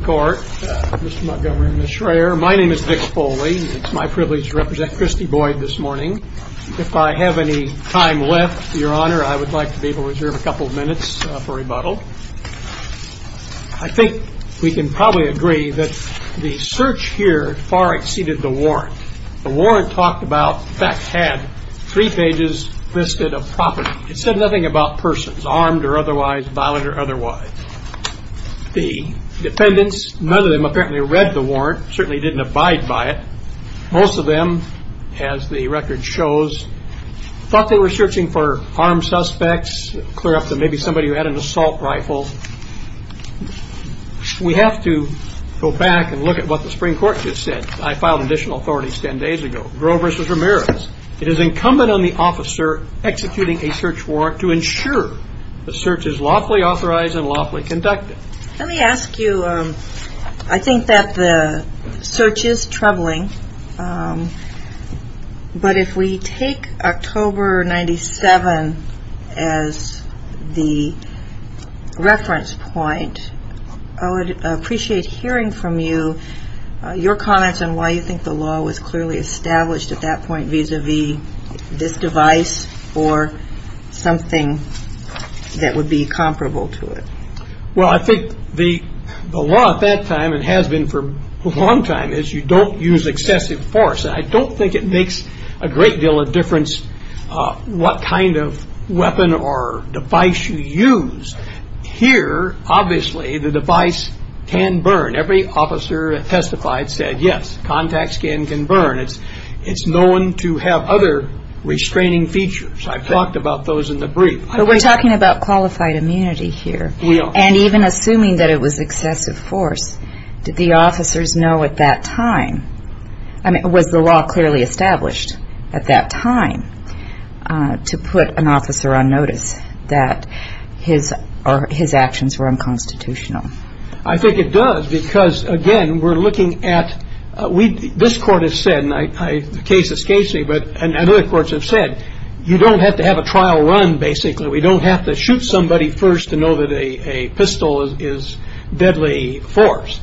Court, Mr. Montgomery and Ms. Schreyer. My name is Dick Foley. It's my privilege to represent Christy Boyd this morning. If I have any time left, Your Honor, I would like to be able to reserve a couple of minutes for rebuttal. I think we can probably agree that the search here far exceeded the warrant. The warrant talked about, in fact, had three pages listed of property. It said nothing about persons, armed or otherwise, violent or otherwise. The defendants, none of them apparently read the warrant, certainly didn't abide by it. Most of them, as the record shows, thought they were searching for armed suspects, clear up that maybe somebody had an assault rifle. We have to go back and look at what the Supreme Court just said. I filed additional authorities ten days ago. Grover v. Ramirez. It is incumbent on the officer executing a search warrant to ensure the search is lawfully authorized and lawfully conducted. Let me ask you, I think that the search is troubling, but if we take October 97 as the reference point, I would appreciate hearing from you your comments on why you think the law was clearly established at that point vis-à-vis this device or something that would be comparable to it. Well, I think the law at that time, and has been for a long time, is you don't use excessive force. I don't think it makes a great deal of difference what kind of weapon or device you use. Here, obviously, the device can burn. Every officer that testified said yes, contact skin can burn. It's known to have other restraining features. I've talked about those in the brief. But we're talking about qualified immunity here. We are. And even assuming that it was excessive force, did the officers know at that time, I mean was the law clearly established at that time to put an officer on notice that his actions were unconstitutional? I think it does because, again, we're looking at, this court has said, and the case is Casey, and other courts have said, you don't have to have a trial run, basically. We don't have to shoot somebody first to know that a pistol is deadly force.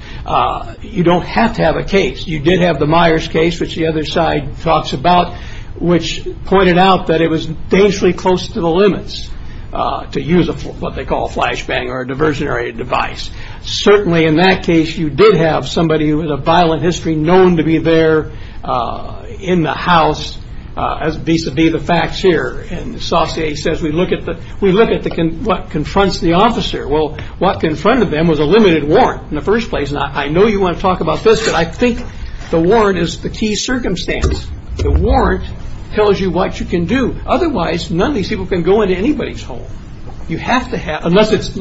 You don't have to have a case. You did have the Myers case, which the other side talks about, which pointed out that it was dangerously close to the limits to use what they call a flashbang or a diversionary device. Certainly, in that case, you did have somebody who had a violent history known to be there in the house, as vis-a-vis the facts here. And Saucier says we look at what confronts the officer. Well, what confronted them was a limited warrant in the first place. And I know you want to talk about this, but I think the warrant is the key circumstance. The warrant tells you what you can do. Otherwise, none of these people can go into anybody's home unless it's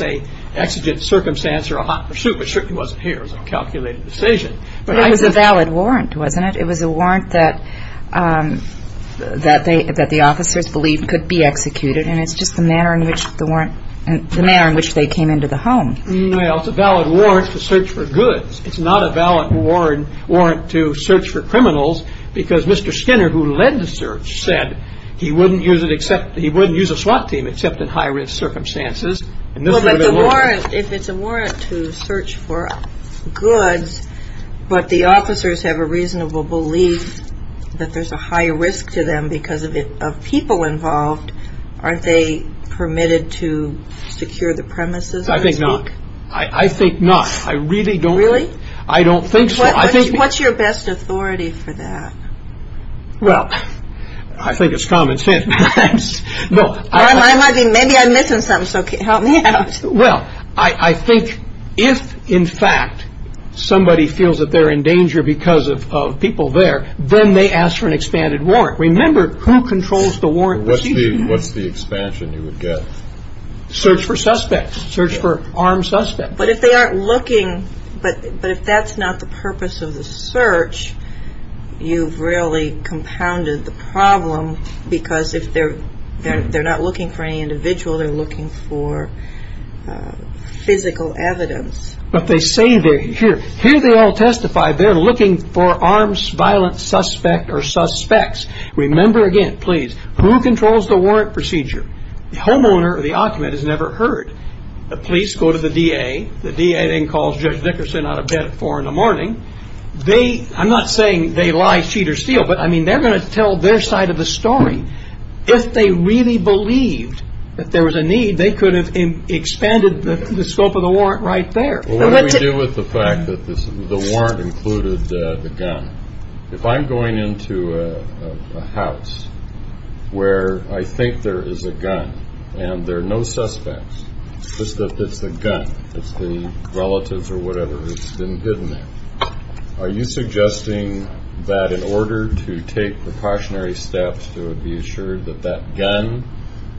an exigent circumstance or a hot pursuit, which certainly wasn't here as a calculated decision. But it was a valid warrant, wasn't it? It was a warrant that the officers believed could be executed, and it's just the manner in which they came into the home. Well, it's a valid warrant to search for goods. It's not a valid warrant to search for criminals because Mr. Skinner, who led the search, said he wouldn't use a SWAT team except in high-risk circumstances. Well, if it's a warrant to search for goods, but the officers have a reasonable belief that there's a high risk to them because of people involved, aren't they permitted to secure the premises? I think not. I think not. Really? I don't think so. What's your best authority for that? Well, I think it's common sense. Maybe I'm missing something, so help me out. Well, I think if, in fact, somebody feels that they're in danger because of people there, then they ask for an expanded warrant. Remember, who controls the warrant? What's the expansion you would get? Search for suspects. Search for armed suspects. But if they aren't looking, but if that's not the purpose of the search, you've really compounded the problem because if they're not looking for any individual, they're looking for physical evidence. But they say they're here. Here they all testify they're looking for armed violent suspect or suspects. Remember again, please, who controls the warrant procedure? The homeowner or the occupant has never heard. The police go to the DA. The DA then calls Judge Dickerson out of bed at 4 in the morning. I'm not saying they lie, cheat, or steal, but, I mean, they're going to tell their side of the story. If they really believed that there was a need, they could have expanded the scope of the warrant right there. What do we do with the fact that the warrant included the gun? If I'm going into a house where I think there is a gun and there are no suspects just that it's the gun, it's the relatives or whatever that's been hidden there, are you suggesting that in order to take precautionary steps to be assured that that gun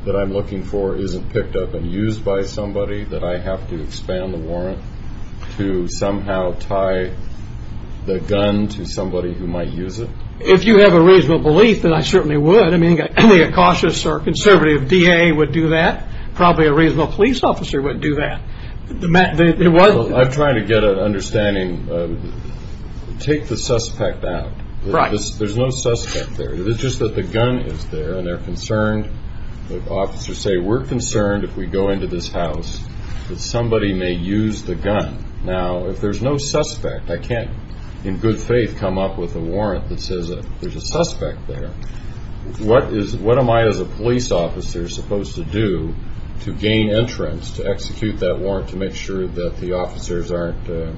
that I'm looking for isn't picked up and used by somebody, that I have to expand the warrant to somehow tie the gun to somebody who might use it? If you have a reasonable belief, then I certainly would. I mean, a cautious or conservative DA would do that. Probably a reasonable police officer would do that. I'm trying to get an understanding. Take the suspect out. There's no suspect there. It's just that the gun is there and they're concerned. The officers say, we're concerned if we go into this house that somebody may use the gun. Now, if there's no suspect, I can't in good faith come up with a warrant that says there's a suspect there. What am I as a police officer supposed to do to gain entrance to execute that warrant to make sure that the officers aren't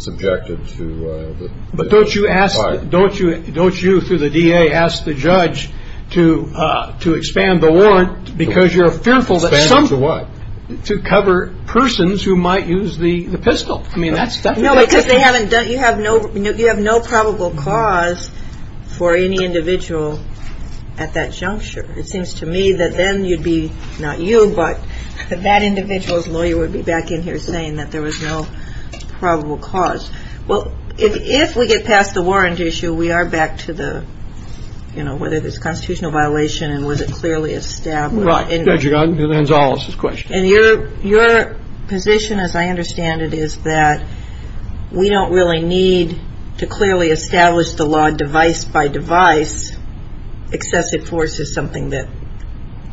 subjected to the fire? But don't you through the DA ask the judge to expand the warrant because you're fearful that some... Expand it to what? To cover persons who might use the pistol. No, because you have no probable cause for any individual at that juncture. It seems to me that then you'd be, not you, but that individual's lawyer would be back in here saying that there was no probable cause. Well, if we get past the warrant issue, we are back to the, you know, whether there's a constitutional violation and was it clearly established. Right. We don't really need to clearly establish the law device by device. Excessive force is something that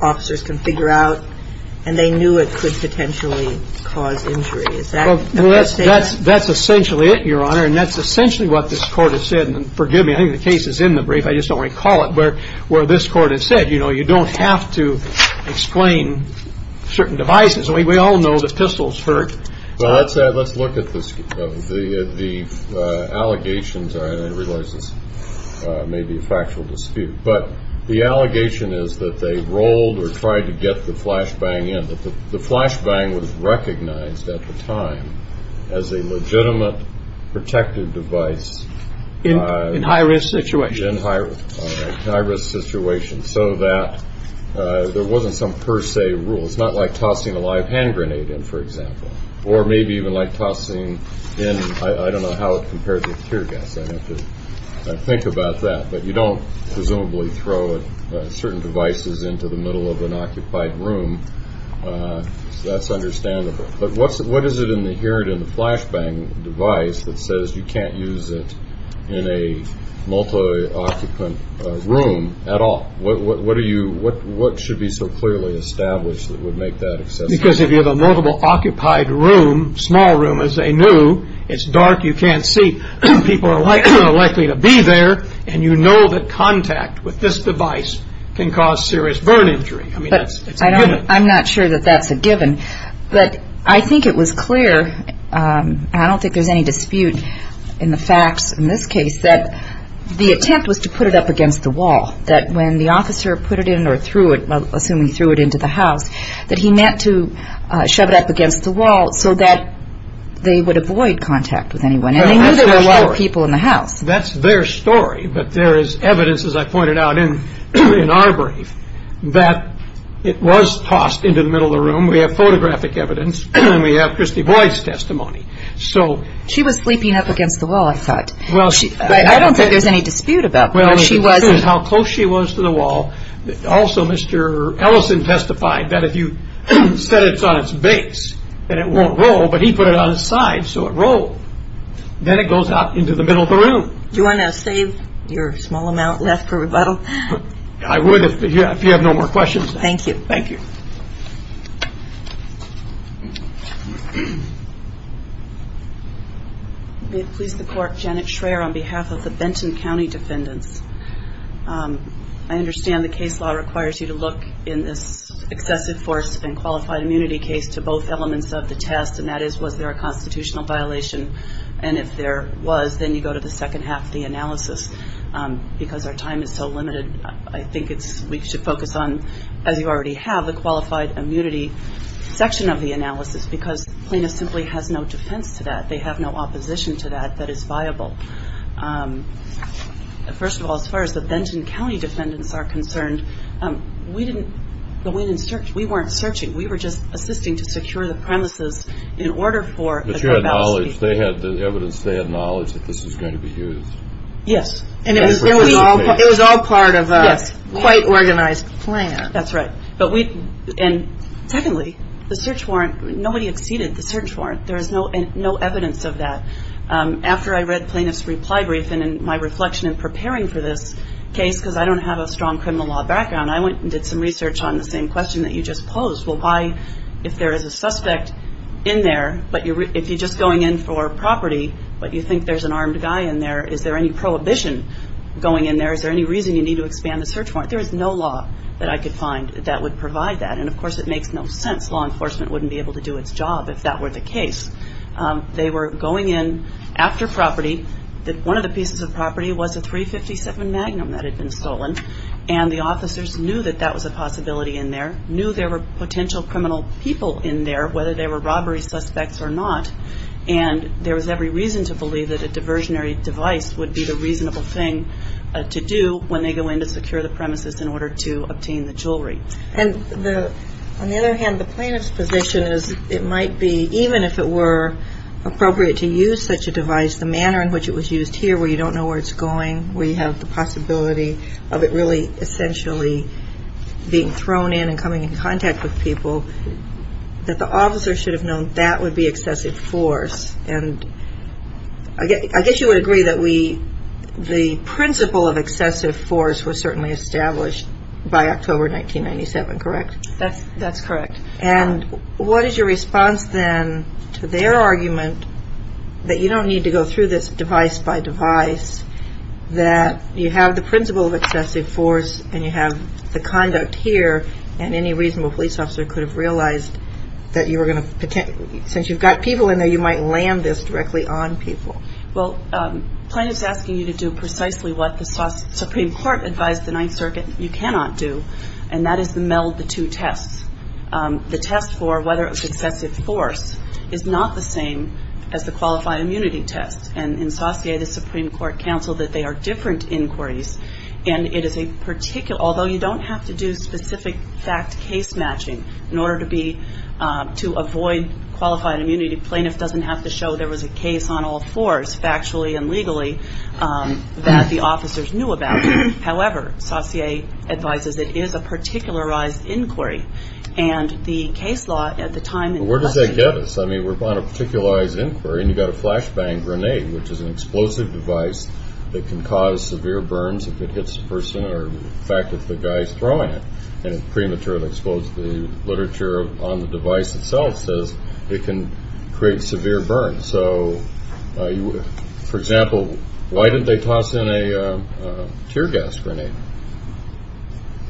officers can figure out. And they knew it could potentially cause injury. That's essentially it, Your Honor. And that's essentially what this court has said. And forgive me, I think the case is in the brief. I just don't recall it. But where this court has said, you know, you don't have to explain certain devices. We all know the pistols hurt. Well, let's look at the allegations. I realize this may be a factual dispute. But the allegation is that they rolled or tried to get the flashbang in. The flashbang was recognized at the time as a legitimate protected device. In high-risk situations. In high-risk situations so that there wasn't some per se rule. It's not like tossing a live hand grenade in, for example. Or maybe even like tossing in, I don't know how it compares with tear gas. I have to think about that. But you don't presumably throw certain devices into the middle of an occupied room. That's understandable. But what is it in the flashbang device that says you can't use it in a multi-occupant room at all? What should be so clearly established that would make that accessible? Because if you have a multiple occupied room, small room, as they knew, it's dark, you can't see. People are likely to be there. And you know that contact with this device can cause serious burn injury. I mean, it's a given. I'm not sure that that's a given. But I think it was clear, and I don't think there's any dispute in the facts in this case, that the attempt was to put it up against the wall. That when the officer put it in or threw it, assuming he threw it into the house, that he meant to shove it up against the wall so that they would avoid contact with anyone. And they knew there were a lot of people in the house. That's their story. But there is evidence, as I pointed out in our brief, that it was tossed into the middle of the room. We have photographic evidence, and we have Christy Boyd's testimony. She was sleeping up against the wall, I thought. I don't think there's any dispute about that. Well, it shows how close she was to the wall. Also, Mr. Ellison testified that if you set it on its base, then it won't roll. But he put it on its side, so it rolled. Then it goes out into the middle of the room. Do you want to save your small amount left for rebuttal? I would if you have no more questions. Thank you. Thank you. May it please the Court. Janet Schraer on behalf of the Benton County Defendants. I understand the case law requires you to look in this excessive force and qualified immunity case to both elements of the test, and that is was there a constitutional violation. And if there was, then you go to the second half of the analysis, because our time is so limited. I think we should focus on, as you already have, the qualified immunity section of the analysis, because Plano simply has no defense to that. They have no opposition to that that is viable. First of all, as far as the Benton County Defendants are concerned, we weren't searching. We were just assisting to secure the premises in order for a courthouse case. But you had knowledge. The evidence, they had knowledge that this was going to be used. Yes. And it was all part of a quite organized plan. That's right. And secondly, the search warrant, nobody exceeded the search warrant. There is no evidence of that. After I read Plano's reply brief, and in my reflection in preparing for this case, because I don't have a strong criminal law background, I went and did some research on the same question that you just posed. Well, why, if there is a suspect in there, but if you're just going in for property, but you think there's an armed guy in there, is there any prohibition going in there? Is there any reason you need to expand the search warrant? There is no law that I could find that would provide that. And, of course, it makes no sense. Law enforcement wouldn't be able to do its job if that were the case. They were going in after property. One of the pieces of property was a .357 Magnum that had been stolen. And the officers knew that that was a possibility in there, knew there were potential criminal people in there, whether they were robbery suspects or not. And there was every reason to believe that a diversionary device would be the reasonable thing to do when they go in to secure the premises in order to obtain the jewelry. And on the other hand, the plaintiff's position is it might be, even if it were appropriate to use such a device, the manner in which it was used here where you don't know where it's going, where you have the possibility of it really essentially being thrown in and coming in contact with people, that the officer should have known that would be excessive force. And I guess you would agree that the principle of excessive force was certainly established by October 1997, correct? That's correct. And what is your response then to their argument that you don't need to go through this device by device, that you have the principle of excessive force and you have the conduct here and any reasonable police officer could have realized that you were going to, since you've got people in there, you might land this directly on people. Well, plaintiff's asking you to do precisely what the Supreme Court advised the Ninth Circuit you cannot do, and that is to meld the two tests. The test for whether it was excessive force is not the same as the qualified immunity test. And in Saussure, the Supreme Court counseled that they are different inquiries, and it is a particular, although you don't have to do specific fact case matching in order to be, to avoid qualified immunity, plaintiff doesn't have to show there was a case on all fours, factually and legally, that the officers knew about. However, Saussure advises it is a particularized inquiry, and the case law at the time. Well, where does that get us? I mean, we're on a particularized inquiry and you've got a flashbang grenade, which is an explosive device that can cause severe burns if it hits a person, or in fact if the guy's throwing it and it prematurely explodes, the literature on the device itself says it can create severe burns. So, for example, why didn't they toss in a tear gas grenade?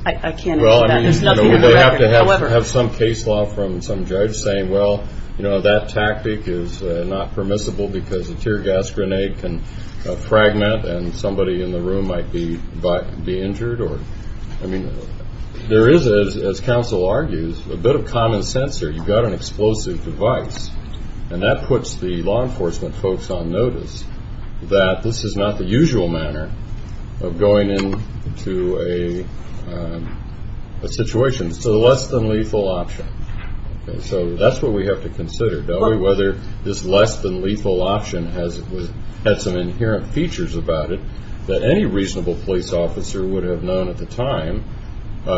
I can't answer that. There's nothing in the record. We're going to have to have some case law from some judge saying, well, you know, that tactic is not permissible because a tear gas grenade can fragment and somebody in the room might be injured. I mean, there is, as counsel argues, a bit of common sense here. You've got an explosive device, and that puts the law enforcement folks on notice that this is not the usual manner of going into a situation. It's a less than lethal option. So that's what we have to consider, whether this less than lethal option has some inherent features about it that any reasonable police officer would have known at the time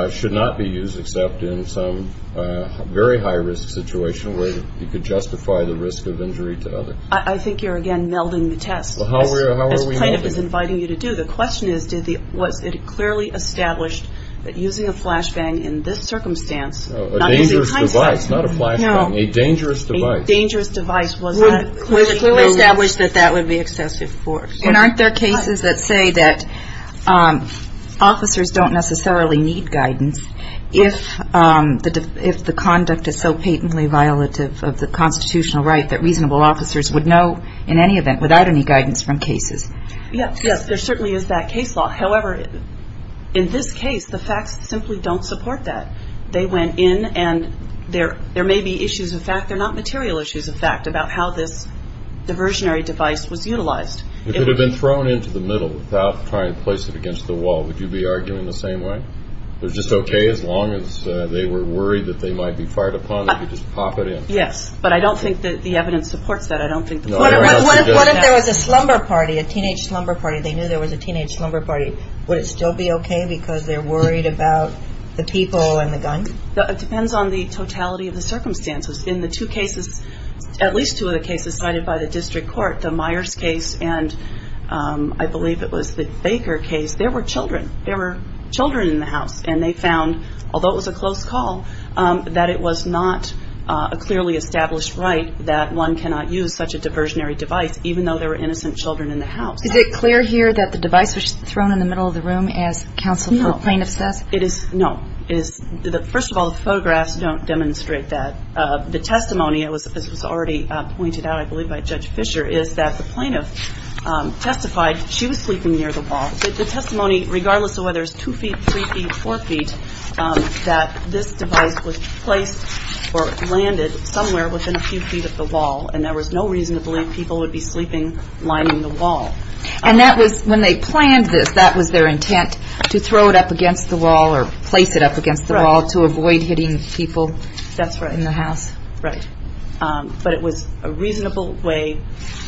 should not be used, except in some very high-risk situation where you could justify the risk of injury to others. I think you're, again, melding the test. How are we melding? As plaintiff is inviting you to do, the question is, was it clearly established that using a flashbang in this circumstance A dangerous device, not a flashbang. No. A dangerous device. A dangerous device was not clearly established that that would be excessive force. And aren't there cases that say that officers don't necessarily need guidance if the conduct is so patently violative of the constitutional right that reasonable officers would know in any event without any guidance from cases? Yes, there certainly is that case law. However, in this case, the facts simply don't support that. They went in, and there may be issues of fact. They're not material issues of fact about how this diversionary device was utilized. If it had been thrown into the middle without trying to place it against the wall, would you be arguing the same way? It was just okay as long as they were worried that they might be fired upon? They could just pop it in. Yes, but I don't think that the evidence supports that. I don't think the court would have suggested that. What if there was a slumber party, a teenage slumber party? They knew there was a teenage slumber party. Would it still be okay because they're worried about the people and the guns? It depends on the totality of the circumstances. In the two cases, at least two of the cases cited by the district court, the Myers case and I believe it was the Baker case, there were children. There were children in the house, and they found, although it was a close call, that it was not a clearly established right that one cannot use such a diversionary device, even though there were innocent children in the house. Is it clear here that the device was thrown in the middle of the room as counsel or plaintiff says? No. First of all, the photographs don't demonstrate that. The testimony, as was already pointed out I believe by Judge Fisher, is that the plaintiff testified she was sleeping near the wall. The testimony, regardless of whether it's two feet, three feet, four feet, that this device was placed or landed somewhere within a few feet of the wall, and there was no reason to believe people would be sleeping lining the wall. And when they planned this, that was their intent, to throw it up against the wall or place it up against the wall to avoid hitting people in the house? That's right. But it was a reasonable way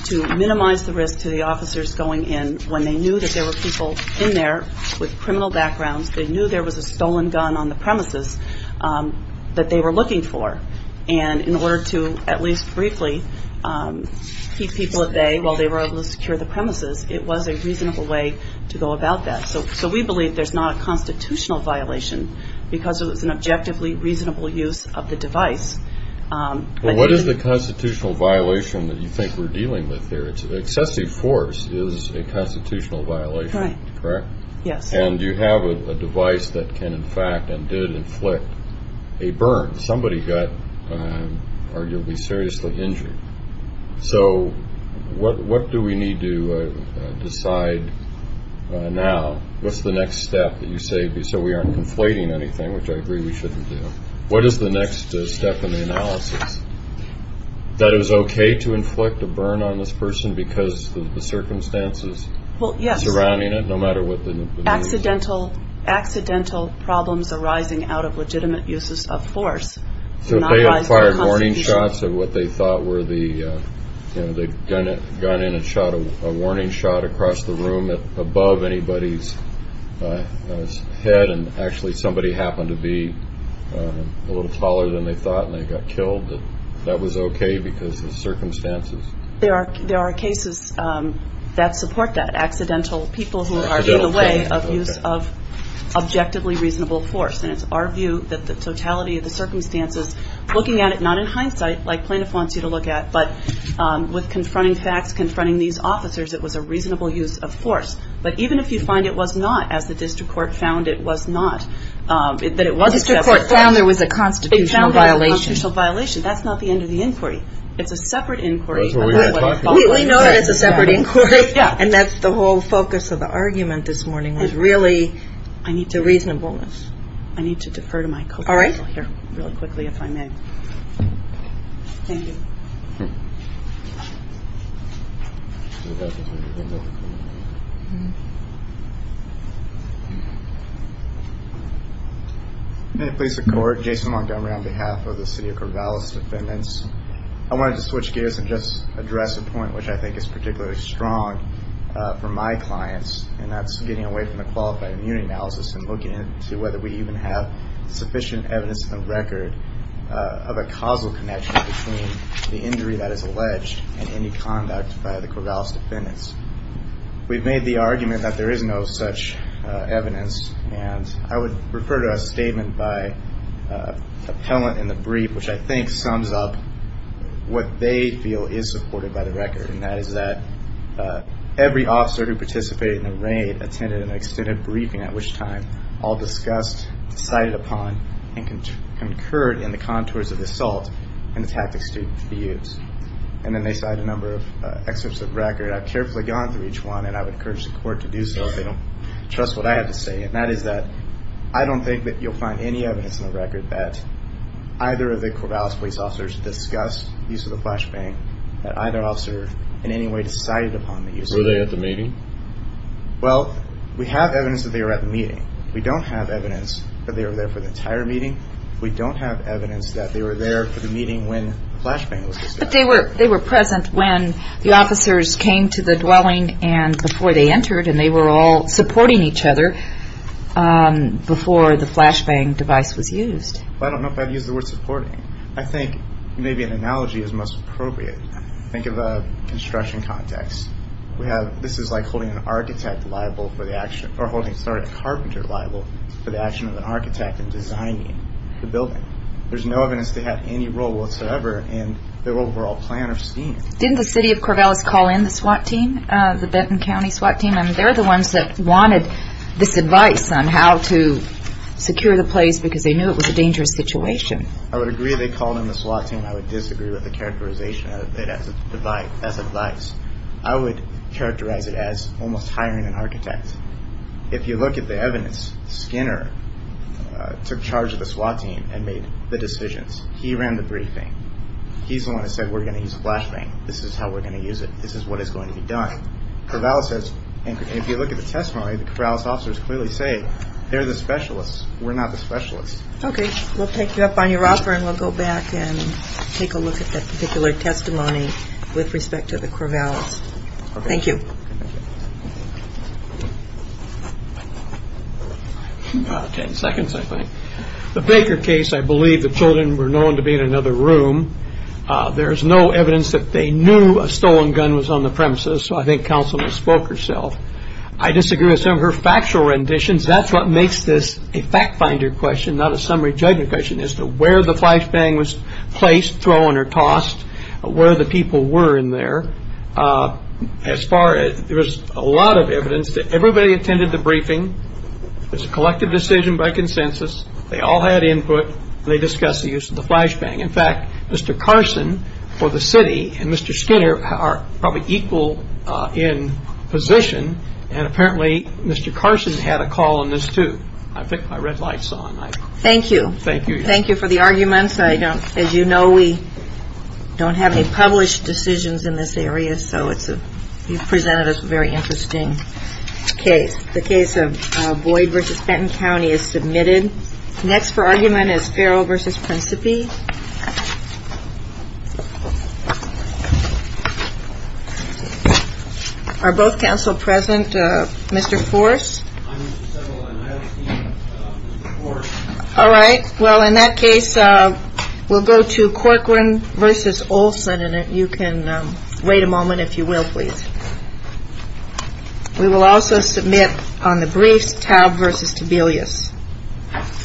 to minimize the risk to the officers going in when they knew that there were people in there with criminal backgrounds, they knew there was a stolen gun on the premises that they were looking for, and in order to at least briefly keep people at bay while they were able to secure the premises, it was a reasonable way to go about that. So we believe there's not a constitutional violation because it was an objectively reasonable use of the device. What is the constitutional violation that you think we're dealing with here? Excessive force is a constitutional violation, correct? Yes. And you have a device that can, in fact, and did inflict a burn. Somebody got arguably seriously injured. So what do we need to decide now? What's the next step that you say so we aren't conflating anything, which I agree we shouldn't do? What is the next step in the analysis? That it was okay to inflict a burn on this person because of the circumstances surrounding it, accidental problems arising out of legitimate uses of force. So if they had fired warning shots of what they thought were the gun in a shot, a warning shot across the room above anybody's head and actually somebody happened to be a little taller than they thought and they got killed, that that was okay because of the circumstances? There are cases that support that, accidental people who are in the way of use of objectively reasonable force. And it's our view that the totality of the circumstances, looking at it not in hindsight, like plaintiff wants you to look at, but with confronting facts, confronting these officers, it was a reasonable use of force. But even if you find it was not, as the district court found it was not, that it was separate. The district court found there was a constitutional violation. It found there was a constitutional violation. That's not the end of the inquiry. It's a separate inquiry. We know that it's a separate inquiry. And that's the whole focus of the argument this morning was really I need to reasonableness. I need to defer to my co-sponsor here really quickly if I may. Thank you. I'm going to place the court, Jason Montgomery, on behalf of the city of Corvallis defendants. I wanted to switch gears and just address a point which I think is particularly strong for my clients, and that's getting away from the qualified immunity analysis and looking into whether we even have sufficient evidence in the record of a causal connection between the injury that is alleged and any conduct by the Corvallis defendants. We've made the argument that there is no such evidence, and I would refer to a statement by an appellant in the brief, which I think sums up what they feel is supported by the record, and that is that every officer who participated in the raid attended an extended briefing, at which time all discussed, decided upon, and concurred in the contours of the assault and the tactics to be used. And then they cite a number of excerpts of the record. I've carefully gone through each one, and I would encourage the court to do so if they don't trust what I have to say, and that is that I don't think that you'll find any evidence in the record that either of the Corvallis police officers discussed the use of the flashbang, that either officer in any way decided upon the use of it. Were they at the meeting? Well, we have evidence that they were at the meeting. We don't have evidence that they were there for the entire meeting. We don't have evidence that they were there for the meeting when the flashbang was used. But they were present when the officers came to the dwelling and before they entered, and they were all supporting each other before the flashbang device was used. Well, I don't know if I'd use the word supporting. I think maybe an analogy is most appropriate. Think of a construction context. This is like holding a carpenter liable for the action of an architect in designing the building. There's no evidence they had any role whatsoever in the overall plan or scheme. Didn't the city of Corvallis call in the SWAT team, the Benton County SWAT team? I mean, they're the ones that wanted this advice on how to secure the place because they knew it was a dangerous situation. I would agree they called in the SWAT team. I would disagree with the characterization of it as advice. I would characterize it as almost hiring an architect. If you look at the evidence, Skinner took charge of the SWAT team and made the decisions. He ran the briefing. He's the one that said we're going to use a flashbang. This is how we're going to use it. This is what is going to be done. If you look at the testimony, the Corvallis officers clearly say they're the specialists. We're not the specialists. Okay, we'll take you up on your offer, and we'll go back and take a look at that particular testimony with respect to the Corvallis. Thank you. Ten seconds, I think. The Baker case, I believe the children were known to be in another room. There's no evidence that they knew a stolen gun was on the premises, so I think counsel misspoke herself. I disagree with some of her factual renditions. That's what makes this a fact finder question, not a summary judgment question, as to where the flashbang was placed, thrown, or tossed, where the people were in there. There was a lot of evidence. Everybody attended the briefing. It was a collective decision by consensus. They all had input, and they discussed the use of the flashbang. In fact, Mr. Carson for the city and Mr. Skinner are probably equal in position, and apparently Mr. Carson had a call on this too. I picked my red lights on. Thank you. Thank you. Thank you for the arguments. As you know, we don't have any published decisions in this area, so you've presented us with a very interesting case. The case of Boyd v. Fenton County is submitted. Next for argument is Farrell v. Principi. Are both counsel present? Mr. Forse? I'm Mr. Seville, and I'll be Mr. Forse. All right. Well, in that case, we'll go to Corcoran v. Olson, and if you can wait a moment, if you will, please. We will also submit on the briefs, Taub v. Tobelius.